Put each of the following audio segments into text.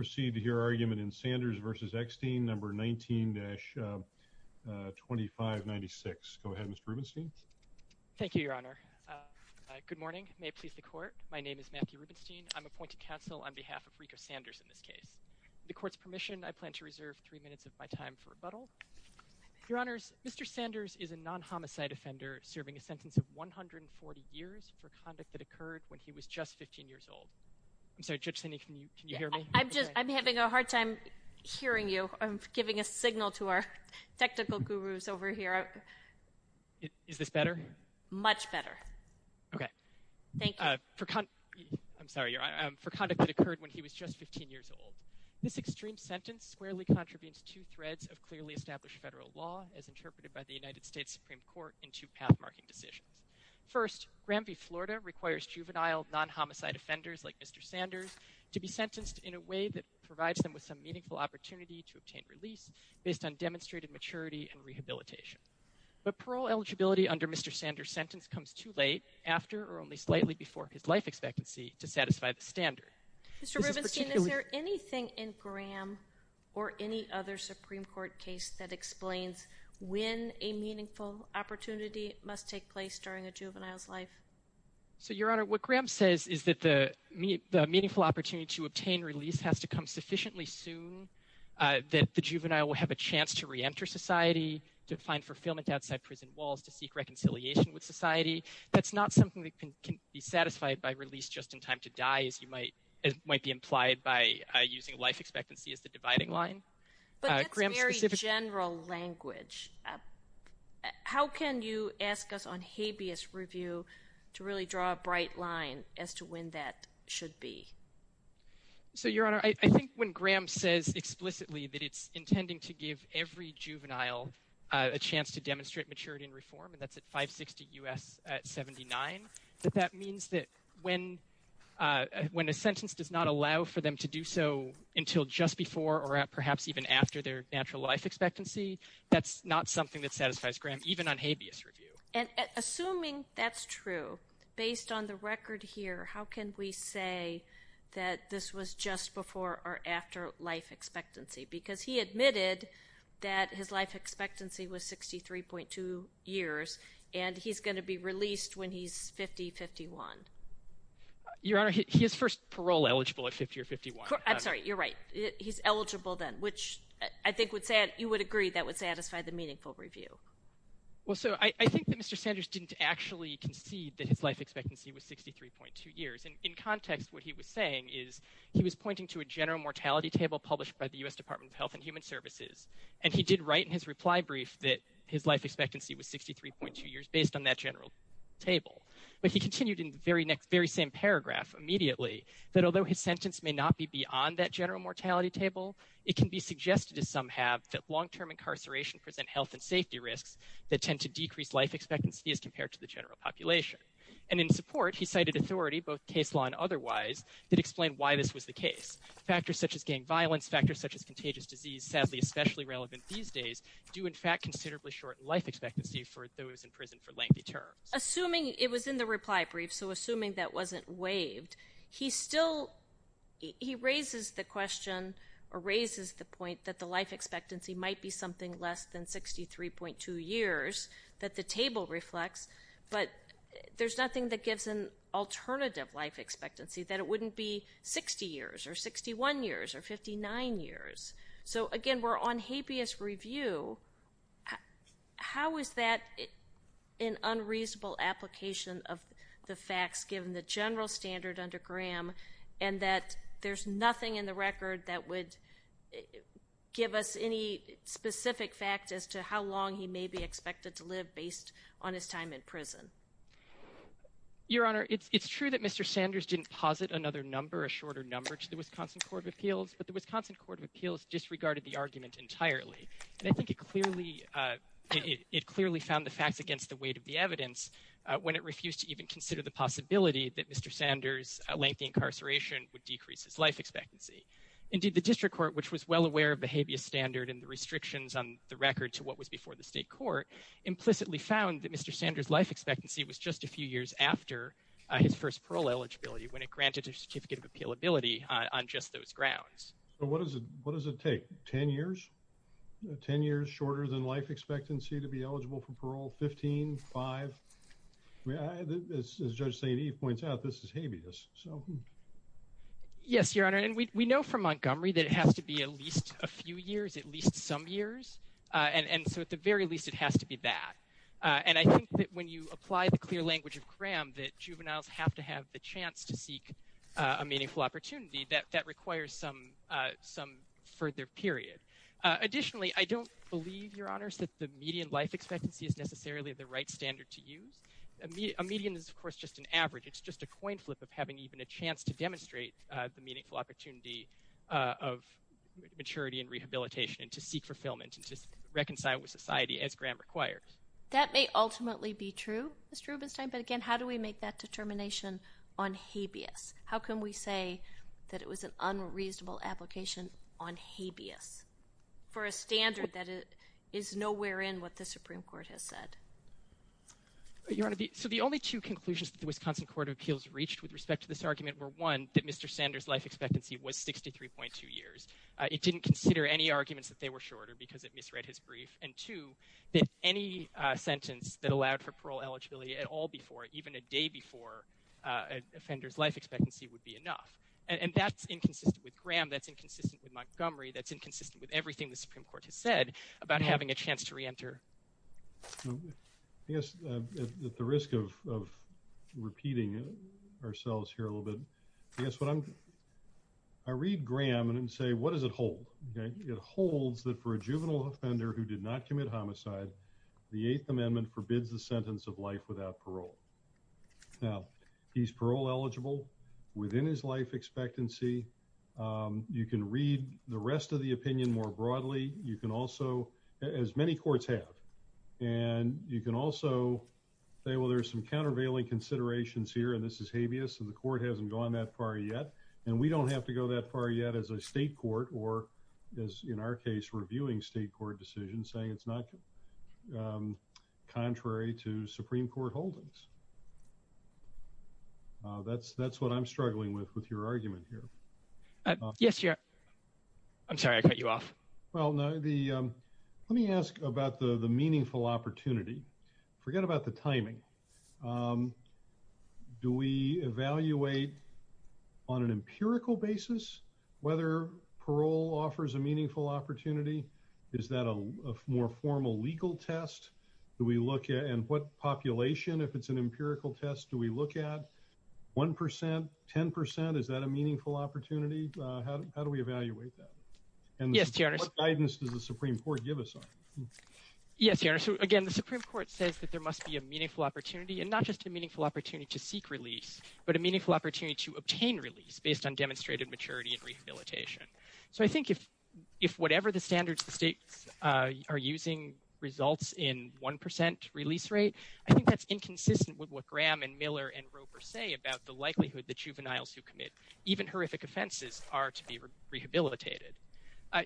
19-2596 I'm having a hard time hearing you. I'm giving a signal to our technical gurus over here. Is this better? Much better. Okay. Thank you. For conduct that occurred when he was just 15 years old, this extreme sentence squarely contravenes two threads of clearly established federal law, as interpreted by the United States Supreme Court in two path-marking decisions. First, Grammy Florida requires juvenile non-homicide offenders like Mr. Sanders to be sentenced in a way that provides them with some meaningful opportunity to obtain release based on demonstrated maturity and rehabilitation. But parole eligibility under Mr. Sanders' sentence comes too late, after or only slightly before his life expectancy, to satisfy the standard. Mr. Rubenstein, is there anything in Gram or any other Supreme Court case that explains when a meaningful opportunity must take place during a juvenile's life? So, Your Honor, what Gram says is that the meaningful opportunity to obtain release has to come sufficiently soon, that the juvenile will have a chance to reenter society, to find fulfillment outside prison walls, to seek reconciliation with society. That's not something that can be satisfied by release just in time to die, as might be implied by using life expectancy as the dividing line. But that's very general language. How can you ask us on habeas review to really draw a bright line as to when that should be? So, Your Honor, I think when Gram says explicitly that it's intending to give every juvenile a chance to demonstrate maturity and reform, and that's at 560 U.S. 79, that that means that when a sentence does not allow for them to do so until just before or perhaps even after their natural life expectancy, that's not something that satisfies Gram, even on habeas review. And assuming that's true, based on the record here, how can we say that this was just before or after life expectancy? Because he admitted that his life expectancy was 63.2 years, and he's going to be released when he's 50, 51. Your Honor, he is first parole eligible at 50 or 51. I'm sorry, you're right. He's eligible then, which I think you would agree that would satisfy the meaningful review. Well, so I think that Mr. Sanders didn't actually concede that his life expectancy was 63.2 years. And in context, what he was saying is he was pointing to a general mortality table published by the U.S. Department of Health and Human Services, and he did write in his reply brief that his life expectancy was 63.2 years based on that general table. But he continued in the very same paragraph immediately that although his sentence may not be beyond that general mortality table, it can be suggested, as some have, that long-term incarceration present health and safety risks that tend to decrease life expectancy as compared to the general population. And in support, he cited authority, both case law and otherwise, that explain why this was the case. Factors such as gang violence, factors such as contagious disease, sadly especially relevant these days, do in fact considerably shorten life expectancy for those in prison for lengthy terms. Assuming it was in the reply brief, so assuming that wasn't waived, he still, he raises the question or raises the point that the life expectancy might be something less than 63.2 years that the table reflects, but there's nothing that gives an alternative life expectancy, that it wouldn't be 60 years or 61 years or 59 years. So, again, we're on habeas review. How is that an unreasonable application of the facts given the general standard under Graham and that there's nothing in the record that would give us any specific fact as to how long he may be expected to live based on his time in prison? Your Honor, it's true that Mr. Sanders didn't posit another number, a shorter number, to the Wisconsin Court of Appeals, but the Wisconsin Court of Appeals disregarded the argument entirely. And I think it clearly found the facts against the weight of the evidence when it refused to even consider the possibility that Mr. Sanders' lengthy incarceration would decrease his life expectancy. Indeed, the district court, which was well aware of the habeas standard and the restrictions on the record to what was before the state court, implicitly found that Mr. Sanders' appealability on just those grounds. So what does it take? Ten years? Ten years shorter than life expectancy to be eligible for parole? Fifteen? Five? As Judge St. Eve points out, this is habeas. Yes, Your Honor, and we know from Montgomery that it has to be at least a few years, at least some years. And so at the very least, it has to be that. And I think that when you apply the clear language of Graham, that juveniles have to have the chance to seek a meaningful opportunity, that requires some further period. Additionally, I don't believe, Your Honors, that the median life expectancy is necessarily the right standard to use. A median is, of course, just an average. It's just a coin flip of having even a chance to demonstrate the meaningful opportunity of maturity and rehabilitation and to seek fulfillment and to reconcile with society as Graham requires. That may ultimately be true, Mr. Rubenstein, but again, how do we make that determination on habeas? How can we say that it was an unreasonable application on habeas for a standard that is nowhere in what the Supreme Court has said? Your Honor, so the only two conclusions that the Wisconsin Court of Appeals reached with respect to this argument were, one, that Mr. Sanders' life expectancy was 63.2 years. It didn't consider any arguments that they were shorter because it misread his brief. And two, that any sentence that allowed for parole eligibility at all before, even a day before, an offender's life expectancy would be enough. And that's inconsistent with Graham. That's inconsistent with Montgomery. That's inconsistent with everything the Supreme Court has said about having a chance to reenter. I guess, at the risk of repeating ourselves here a little bit, I guess what I'm, I read Graham and say, what does it hold? It holds that for a juvenile offender who did not commit homicide, the Eighth Amendment forbids the sentence of life without parole. Now, he's parole eligible within his life expectancy. You can read the rest of the opinion more broadly. You can also, as many courts have, and you can also say, well, there's some countervailing considerations here, and this is habeas, and the court hasn't gone that far yet, and we don't have to go that far yet as a state court, or as, in our case, reviewing state court decisions, saying it's not contrary to Supreme Court holdings. That's what I'm struggling with, with your argument here. Yes, your, I'm sorry, I cut you off. Well, no, the, let me ask about the meaningful opportunity. Forget about the timing. Do we evaluate on an empirical basis whether parole offers a meaningful opportunity? Is that a more formal legal test? Do we look at, and what population, if it's an empirical test, do we look at 1%, 10%? Is that a meaningful opportunity? How do we evaluate that? And what guidance does the Supreme Court give us on it? Yes, your Honor, so again, the Supreme Court says that there must be a meaningful opportunity, and not just a meaningful opportunity to seek release, but a meaningful opportunity to obtain release based on demonstrated maturity and rehabilitation. So I think if whatever the standards the states are using results in 1% release rate, I think that's inconsistent with what Graham and Miller and Roper say about the likelihood that juveniles who commit even horrific offenses are to be rehabilitated.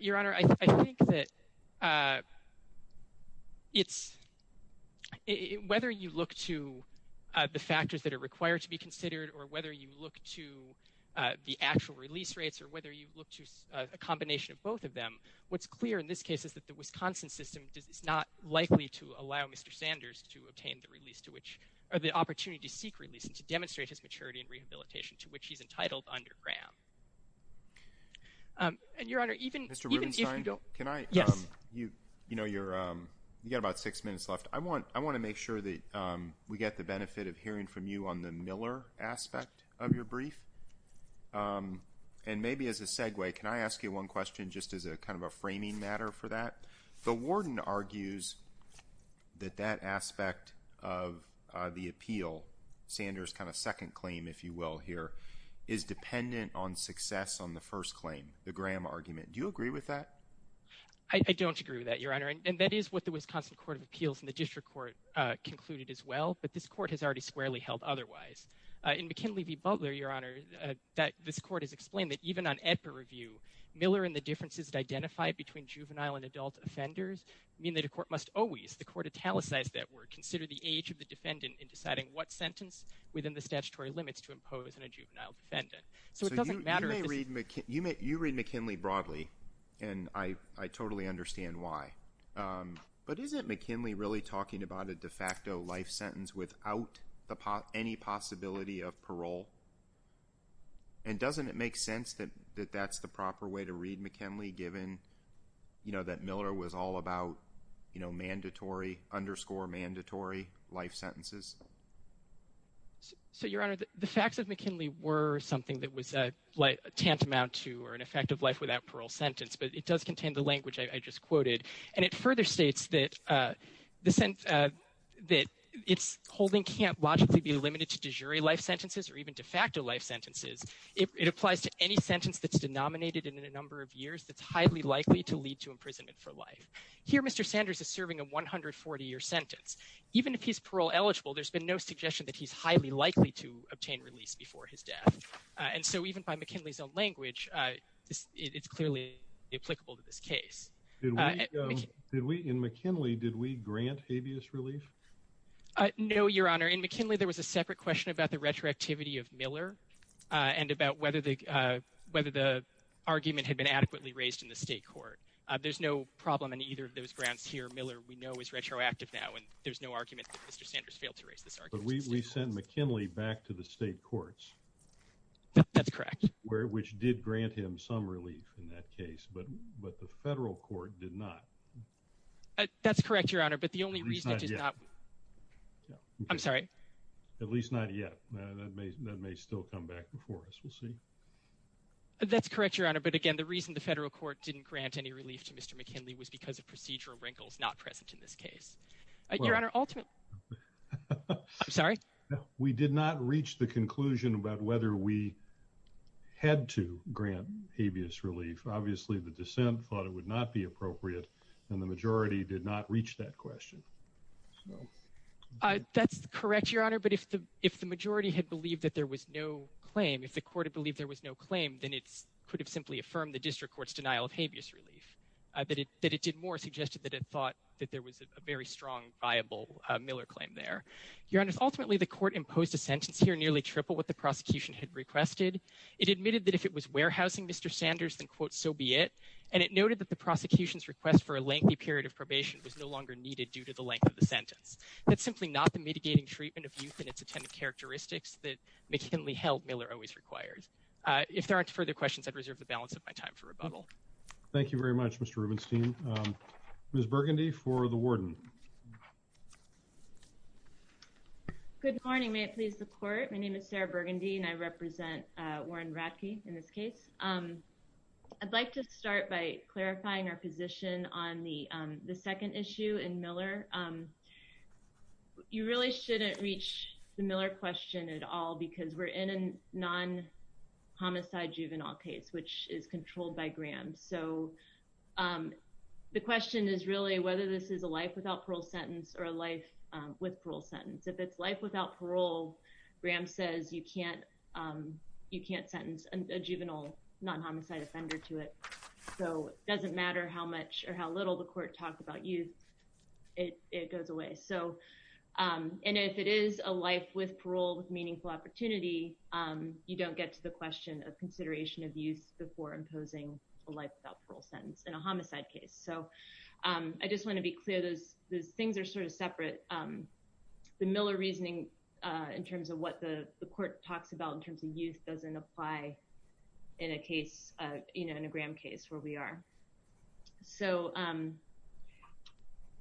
Your Honor, I think that it's, whether you look to the factors that are required to be considered, or whether you look to the actual release rates, or whether you look to a combination of both of them, what's clear in this case is that the Wisconsin system is not likely to allow Mr. Sanders to obtain the release to which, or the opportunity to seek release and to demonstrate his maturity and rehabilitation, to which he's entitled under Graham. And your Honor, even if you don't... Mr. Rubenstein, can I... Yes. You know, you've got about six minutes left. I want to make sure that we get the benefit of hearing from you on the Miller aspect of your brief. And maybe as a segue, can I ask you one question just as kind of a framing matter for that? The warden argues that that aspect of the appeal, Sanders' kind of second claim, if you will, here, is dependent on success on the first claim, the Graham argument. Do you agree with that? I don't agree with that, your Honor. And that is what the Wisconsin Court of Appeals and the district court concluded as well. But this court has already squarely held otherwise. In McKinley v. Butler, your Honor, this court has explained that even on EDPA review, Miller and the differences that identify between juvenile and adult offenders mean that a court must always, the court italicized that word, consider the age of the defendant in deciding what sentence within the statutory limits to impose on a juvenile defendant. So it doesn't matter if it's... So you read McKinley broadly, and I totally understand why. But isn't McKinley really talking about a de facto life sentence without any possibility of parole? And doesn't it make sense that that's the proper way to read McKinley given, you know, that Miller was all about, you know, mandatory, underscore mandatory life sentences? So, your Honor, the facts of McKinley were something that was tantamount to an effective life without parole sentence, but it does contain the language I just quoted. And it further states that it's holding can't logically be limited to de jure life sentences or even de facto life sentences. It applies to any sentence that's denominated in a number of years that's highly likely to lead to imprisonment for life. Here Mr. Sanders is serving a 140-year sentence. Even if he's parole eligible, there's been no suggestion that he's highly likely to obtain release before his death. And so even by McKinley's own language, it's clearly applicable to this case. In McKinley, did we grant habeas relief? No, your Honor. In McKinley, there was a separate question about the retroactivity of Miller and about whether the argument had been adequately raised in the state court. There's no problem in either of those grants here. Miller, we know, is retroactive now, and there's no argument that Mr. Sanders failed to raise this argument in the state courts. But we sent McKinley back to the state courts. That's correct. Which did grant him some relief in that case, but the federal court did not. That's correct, your Honor, but the only reason it did not... At least not yet. I'm sorry? At least not yet. That may still come back before us. We'll see. That's correct, your Honor. But again, the reason the federal court didn't grant any relief to Mr. McKinley was because of procedural wrinkles not present in this case. Your Honor, ultimately... I'm sorry? We did not reach the conclusion about whether we had to grant habeas relief. Obviously, the dissent thought it would not be appropriate, and the majority did not reach that question. That's correct, your Honor. But if the majority had believed that there was no claim, if the court had believed there was no claim, then it could have simply affirmed the district court's denial of habeas relief. That it did more suggested that it thought that there was a very strong, viable Miller claim there. Your Honor, ultimately, the court imposed a sentence here nearly triple what the prosecution had requested. It admitted that if it was warehousing Mr. Sanders, then, quote, so be it. And it noted that the prosecution's request for a lengthy period of probation was no longer needed due to the length of the sentence. That's simply not the mitigating treatment of youth and its attendant characteristics that McKinley held Miller always required. If there aren't further questions, I'd reserve the balance of my time for rebuttal. Thank you very much, Mr. Rubenstein. Ms. Burgundy for the warden. Good morning. May it please the court. My name is Sarah Burgundy, and I represent Warren Radke in this case. I'd like to start by clarifying our position on the second issue in Miller. You really shouldn't reach the Miller question at all because we're in a non-homicide juvenile case, which is controlled by Graham. So the question is really whether this is a life without parole sentence or a life with parole sentence. If it's life without parole, Graham says you can't sentence a juvenile non-homicide offender to it. So it doesn't matter how much or how little the court talked about youth. It goes away. And if it is a life with parole with meaningful opportunity, you don't get to the question of consideration of youth before imposing a life without parole sentence in a homicide case. So I just want to be clear. Those things are sort of separate. But the Miller reasoning in terms of what the court talks about in terms of youth doesn't apply in a case, you know, in a Graham case where we are. So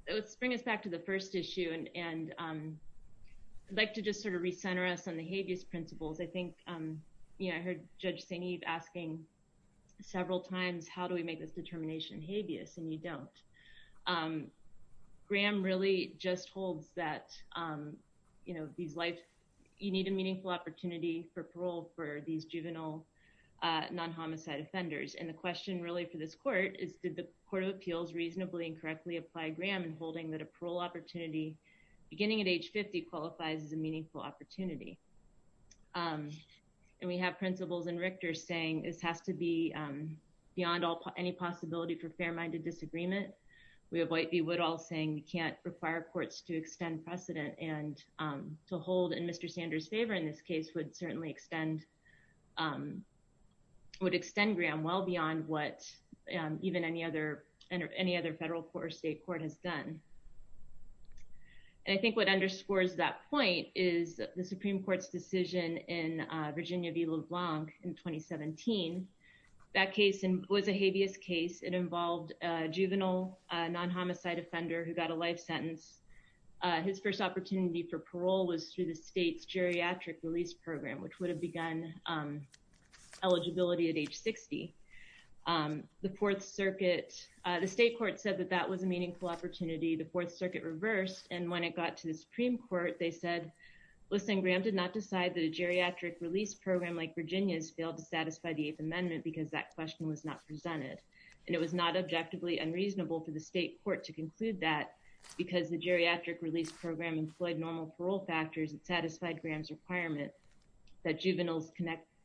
let's bring us back to the first issue. And I'd like to just sort of recenter us on the habeas principles. I think, you know, I heard Judge St. Eve asking several times, how do we make this determination habeas? And you don't. Graham really just holds that, you know, these life, you need a meaningful opportunity for parole for these juvenile non-homicide offenders. And the question really for this court is did the Court of Appeals reasonably and correctly apply Graham in holding that a parole opportunity beginning at age 50 qualifies as a meaningful opportunity. And we have principles in Richter saying this has to be beyond any possibility for fair parole. We have White v. Woodall saying we can't require courts to extend precedent and to hold in Mr. Sanders' favor in this case would certainly extend, would extend Graham well beyond what even any other federal court or state court has done. And I think what underscores that point is the Supreme Court's decision in Virginia v. LeBlanc in 2017. That case was a habeas case. It involved a juvenile non-homicide offender who got a life sentence. His first opportunity for parole was through the state's geriatric release program, which would have begun eligibility at age 60. The Fourth Circuit, the state court said that that was a meaningful opportunity. The Fourth Circuit reversed. And when it got to the Supreme Court, they said, listen, Graham did not decide that a geriatric release program like Virginia's failed to satisfy the Eighth Amendment because that question was not presented. And it was not objectively unreasonable for the state court to conclude that because the geriatric release program employed normal parole factors, it satisfied Graham's requirement that juveniles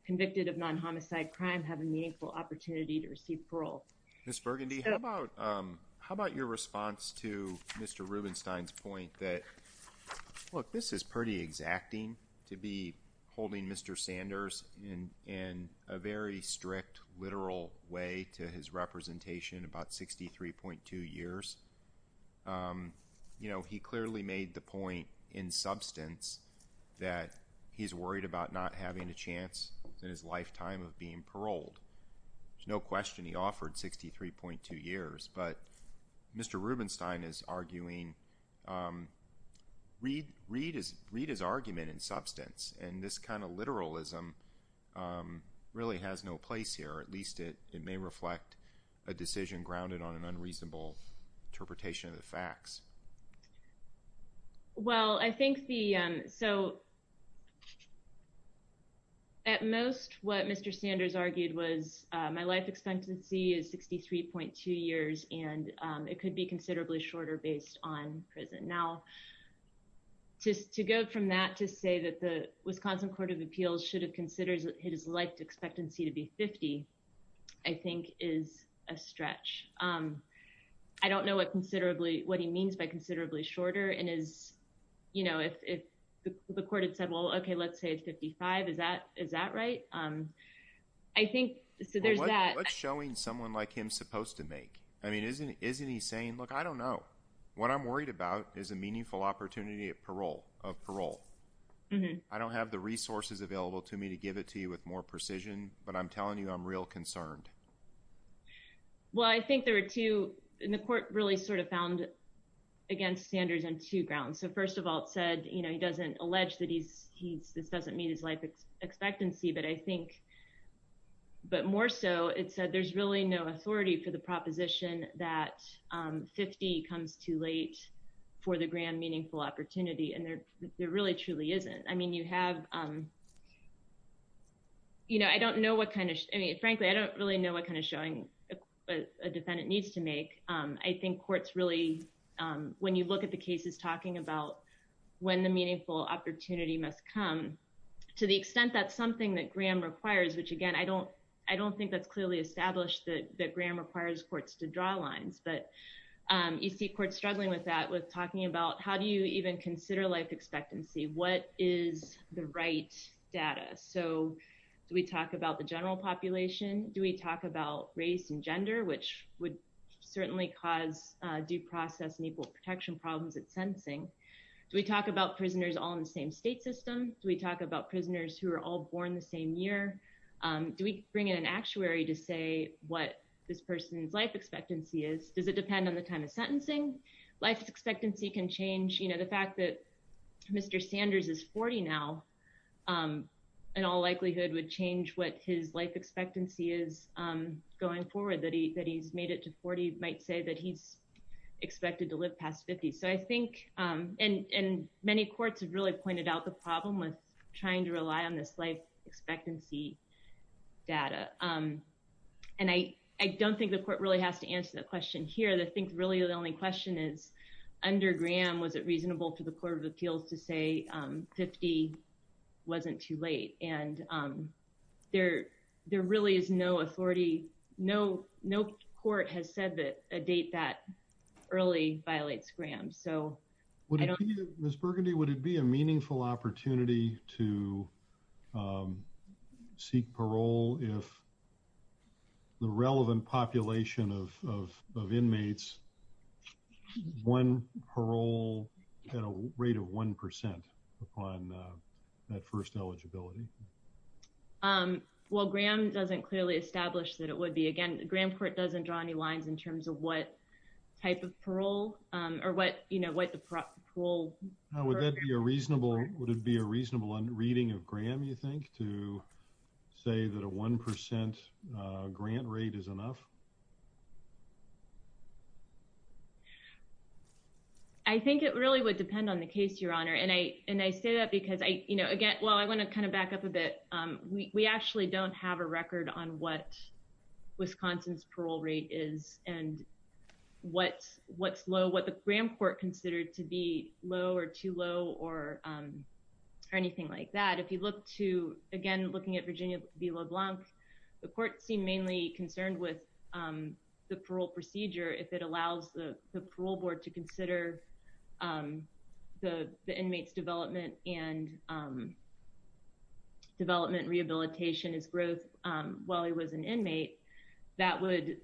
convicted of non-homicide crime have a meaningful opportunity to receive parole. Ms. Burgundy, how about your response to Mr. Rubenstein's point that, look, this is pretty exacting to be holding Mr. Sanders in a very strict, literal way to his representation about 63.2 years. You know, he clearly made the point in substance that he's worried about not having a chance in his lifetime of being paroled. There's no question he offered 63.2 years. But Mr. Rubenstein is arguing, read his argument in substance. And this kind of literalism really has no place here. At least it may reflect a decision grounded on an unreasonable interpretation of the facts. Well, I think the, so at most what Mr. Sanders argued was my life expectancy is 63.2 years. And it could be considerably shorter based on prison. Now, just to go from that to say that the Wisconsin Court of Appeals should have considered his life expectancy to be 50, I think is a stretch. I don't know what considerably, what he means by considerably shorter and is, you know, if the court had said, well, okay, let's say it's 55. Is that right? I think, so there's that. What's showing someone like him supposed to make? I mean, isn't he saying, look, I don't know. What I'm worried about is a meaningful opportunity of parole. I don't have the resources available to me to give it to you with more precision. But I'm telling you I'm real concerned. Well, I think there were two in the court really sort of found against Sanders on two grounds. So first of all, it said, you know, he doesn't allege that he's he's this doesn't meet his life expectancy. But I think but more so it said there's really no authority for the proposition that 50 comes too late for the grand meaningful opportunity. And there really truly isn't. I mean, you have, you know, I don't know what kind of. I mean, frankly, I don't really know what kind of showing a defendant needs to make. I think courts really when you look at the cases talking about when the meaningful opportunity must come, to the extent that's something that Graham requires, which, again, I don't I don't think that's clearly established that Graham requires courts to draw lines. But you see court struggling with that, with talking about how do you even consider life expectancy? What is the right data? So do we talk about the general population? Do we talk about race and gender, which would certainly cause due process and equal protection problems at sentencing? Do we talk about prisoners all in the same state system? Do we talk about prisoners who are all born the same year? Do we bring in an actuary to say what this person's life expectancy is? Does it depend on the kind of sentencing life expectancy can change? You know, the fact that Mr. Sanders is 40 now in all likelihood would change what his life expectancy is going forward. That he that he's made it to 40 might say that he's expected to live past 50. So I think and many courts have really pointed out the problem with trying to rely on this life expectancy data. And I don't think the court really has to answer the question here. But I think really the only question is under Graham, was it reasonable for the Court of Appeals to say 50 wasn't too late? And there there really is no authority. No, no court has said that a date that early violates Graham. Ms. Burgundy, would it be a meaningful opportunity to seek parole if the relevant population of inmates won parole at a rate of 1% upon that first eligibility? Well, Graham doesn't clearly establish that it would be again. Graham Court doesn't draw any lines in terms of what type of parole or what you know what the parole would be a reasonable. Would it be a reasonable reading of Graham, you think, to say that a 1% grant rate is enough? I think it really would depend on the case, Your Honor. And I and I say that because I, you know, again, well, I want to kind of back up a bit. We actually don't have a record on what Wisconsin's parole rate is and what's what's low, what the Graham court considered to be low or too low or anything like that. If you look to, again, looking at Virginia v. LeBlanc, the court seemed mainly concerned with the parole procedure. If it allows the parole board to consider the inmates development and development rehabilitation as growth while he was an inmate, that would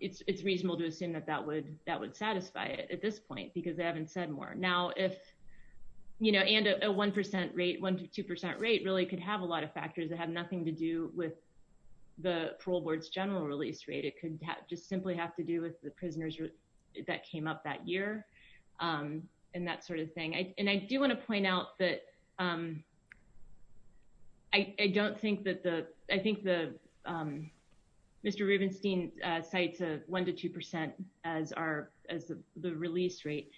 it's reasonable to assume that that would that would satisfy it at this point because they haven't said more. You know, and a 1% rate, 1 to 2% rate really could have a lot of factors that have nothing to do with the parole board's general release rate. It could just simply have to do with the prisoners that came up that year and that sort of thing. And I do want to point out that I don't think that the I think the Mr. Rubenstein cites a 1 to 2% as our as the release rate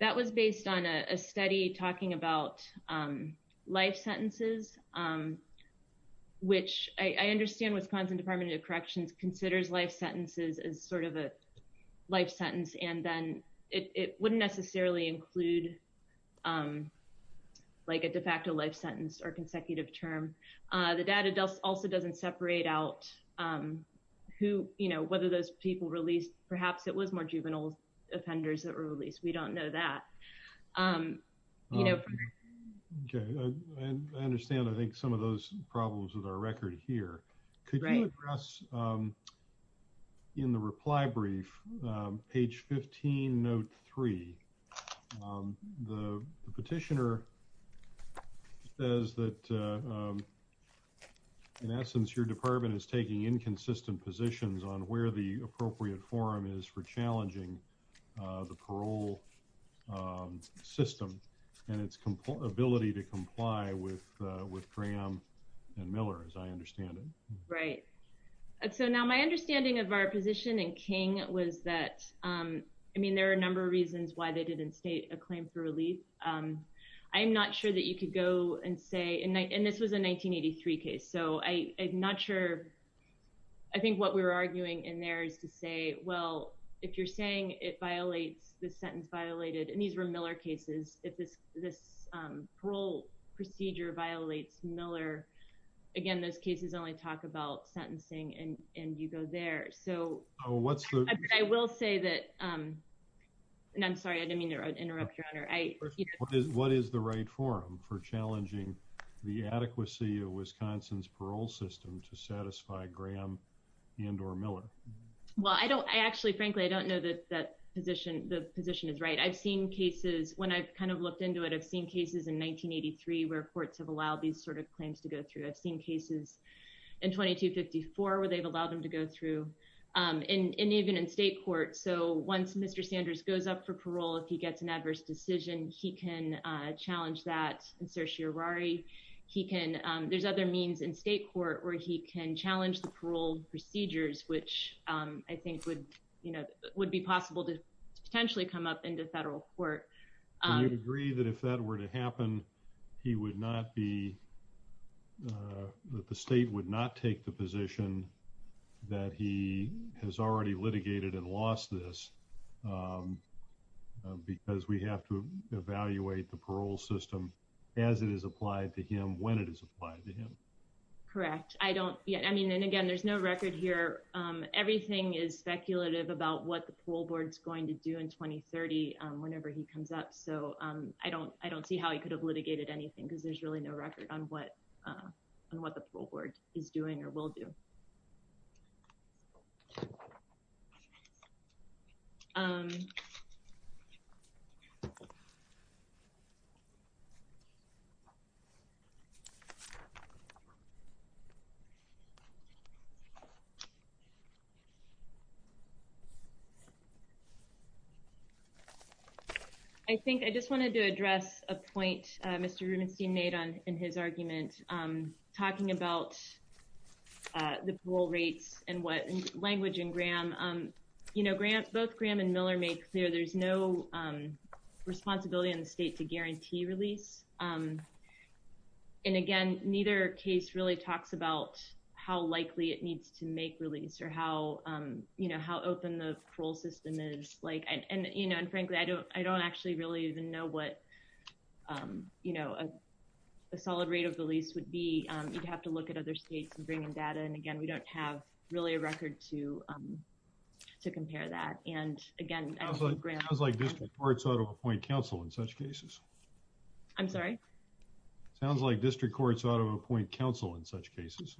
that was based on a study talking about life sentences, which I understand Wisconsin Department of Corrections considers life sentences as sort of a life sentence. And then it wouldn't necessarily include like a de facto life sentence or consecutive term. The data does also doesn't separate out who you know whether those people released, perhaps it was more juvenile offenders that were released. We don't know that. Okay, I understand. I think some of those problems with our record here. Could you address in the reply brief, page 15 note three. The petitioner says that, in essence, your department is taking inconsistent positions on where the appropriate forum is for challenging the parole system, and its ability to comply with with Graham and Miller as I understand it. Right. So now my understanding of our position and King was that, I mean there are a number of reasons why they didn't state a claim for relief. I'm not sure that you could go and say in night and this was a 1983 case so I not sure. I think what we were arguing in there is to say, well, if you're saying it violates the sentence violated and these were Miller cases, if this, this parole procedure violates Miller. Again, those cases only talk about sentencing and and you go there. So, what's the, I will say that. And I'm sorry I didn't mean to interrupt your honor I. What is the right forum for challenging the adequacy of Wisconsin's parole system to satisfy Graham and or Miller. Well I don't I actually frankly I don't know that that position, the position is right I've seen cases when I've kind of looked into it I've seen cases in 1983 where courts have allowed these sort of claims to go through I've seen cases in 2254 where they've allowed them to go through, and even in state court so once Mr Sanders goes up for parole if he gets an adverse decision, he can challenge that and search your worry, he can. There's other means in state court where he can challenge the parole procedures which I think would, you know, would be possible to potentially come up into federal court. I agree that if that were to happen. He would not be the state would not take the position that he has already litigated and lost this because we have to evaluate the parole system as it is applied to him when it is applied to him. Correct, I don't yet I mean and again there's no record here. Everything is speculative about what the pool boards going to do in 2030, whenever he comes up so I don't, I don't see how he could have litigated anything because there's really no record on what, on what the board is doing or will do. Um, I think I just wanted to address a point, Mr Rubenstein made on in his argument, I'm talking about the pool rates and what language and Graham. You know grant both Graham and Miller make clear there's no responsibility in the state to guarantee release. And again, neither case really talks about how likely it needs to make release or how you know how open the parole system is like and you know and frankly I don't, I don't actually really even know what, you know, a solid rate of release would be, you'd have to look at other states and bringing data and again we don't have really a record to, to compare that. And again, I was like this report sort of a point counsel in such cases. I'm sorry. Sounds like district courts ought to appoint counsel in such cases.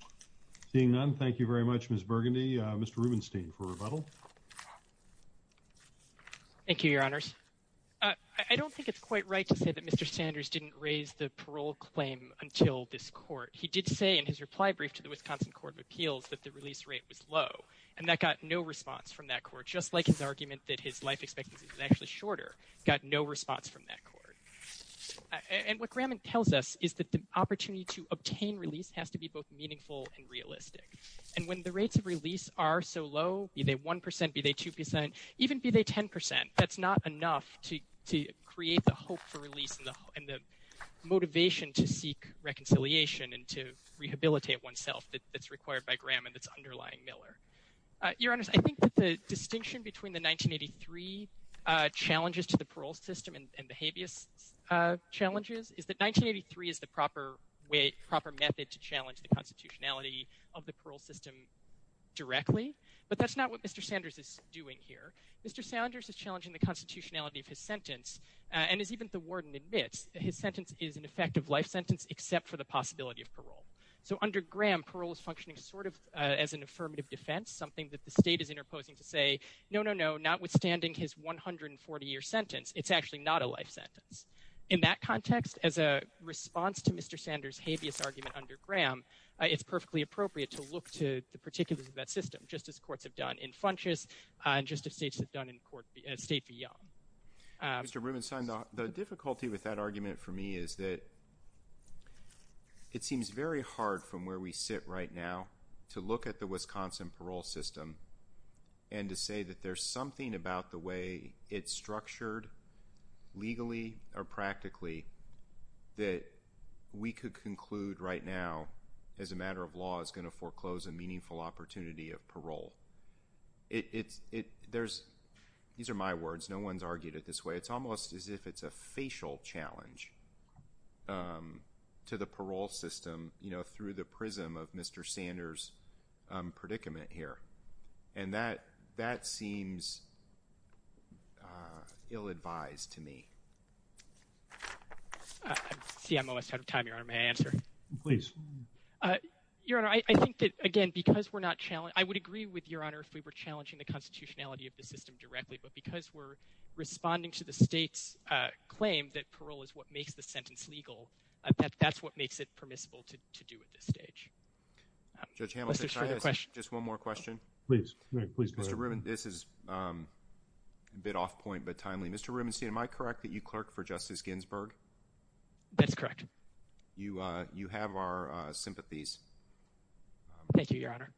Thank you. Seeing none. Thank you very much Miss Burgundy, Mr Rubenstein for rebuttal. Thank you, Your Honors. I don't think it's quite right to say that Mr Sanders didn't raise the parole claim until this court he did say in his reply brief to the Wisconsin Court of Appeals that the release rate was low, and that got no response from that court just like his argument that his life expectancy is actually shorter, got no response from that court. And what Graman tells us is that the opportunity to obtain release has to be both meaningful and realistic. And when the rates of release are so low, be they 1%, be they 2%, even be they 10%, that's not enough to create the hope for release and the motivation to seek reconciliation and to rehabilitate oneself that's required by Graman that's underlying Miller. Your Honors, I think that the distinction between the 1983 challenges to the parole system and the habeas challenges is that 1983 is the proper method to challenge the constitutionality of the parole system directly. But that's not what Mr. Sanders is doing here. Mr. Sanders is challenging the constitutionality of his sentence, and as even the warden admits, his sentence is an effective life sentence except for the possibility of parole. So under Gram, parole is functioning sort of as an affirmative defense, something that the state is interposing to say, no, no, no, notwithstanding his 140-year sentence, it's actually not a life sentence. In that context, as a response to Mr. Sanders' habeas argument under Gram, it's perfectly appropriate to look to the particulars of that system, just as courts have done in Funchess and just as states have done in State v. Young. Mr. Rubenstein, the difficulty with that argument for me is that it seems very hard from where we sit right now to look at the Wisconsin parole system and to say that there's something about the way it's structured legally or practically that we could conclude right now as a matter of law is going to foreclose a meaningful opportunity of parole. These are my words. No one's argued it this way. It's almost as if it's a facial challenge to the parole system through the prism of Mr. Sanders' predicament here, and that seems ill-advised to me. I see I'm almost out of time, Your Honor. May I answer? Please. Your Honor, I think that, again, because we're not challenging—I would agree with Your Honor if we were challenging the constitutionality of the system directly, but because we're responding to the state's claim that parole is what makes the sentence legal, that's what makes it permissible to do at this stage. Judge Hamilton, can I ask just one more question? Please. Mr. Rubenstein, this is a bit off-point but timely. Mr. Rubenstein, am I correct that you clerk for Justice Ginsburg? That's correct. You have our sympathies. Thank you, Your Honor.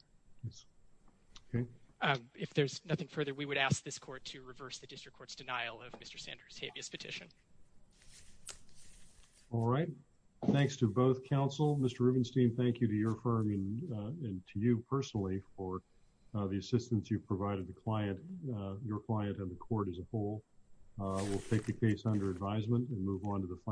Okay. If there's nothing further, we would ask this court to reverse the district court's denial of Mr. Sanders' habeas petition. All right. Thanks to both counsel. Mr. Rubenstein, thank you to your firm and to you personally for the assistance you've provided the client, your client and the court as a whole. We'll take the case under advisement and move on to the final.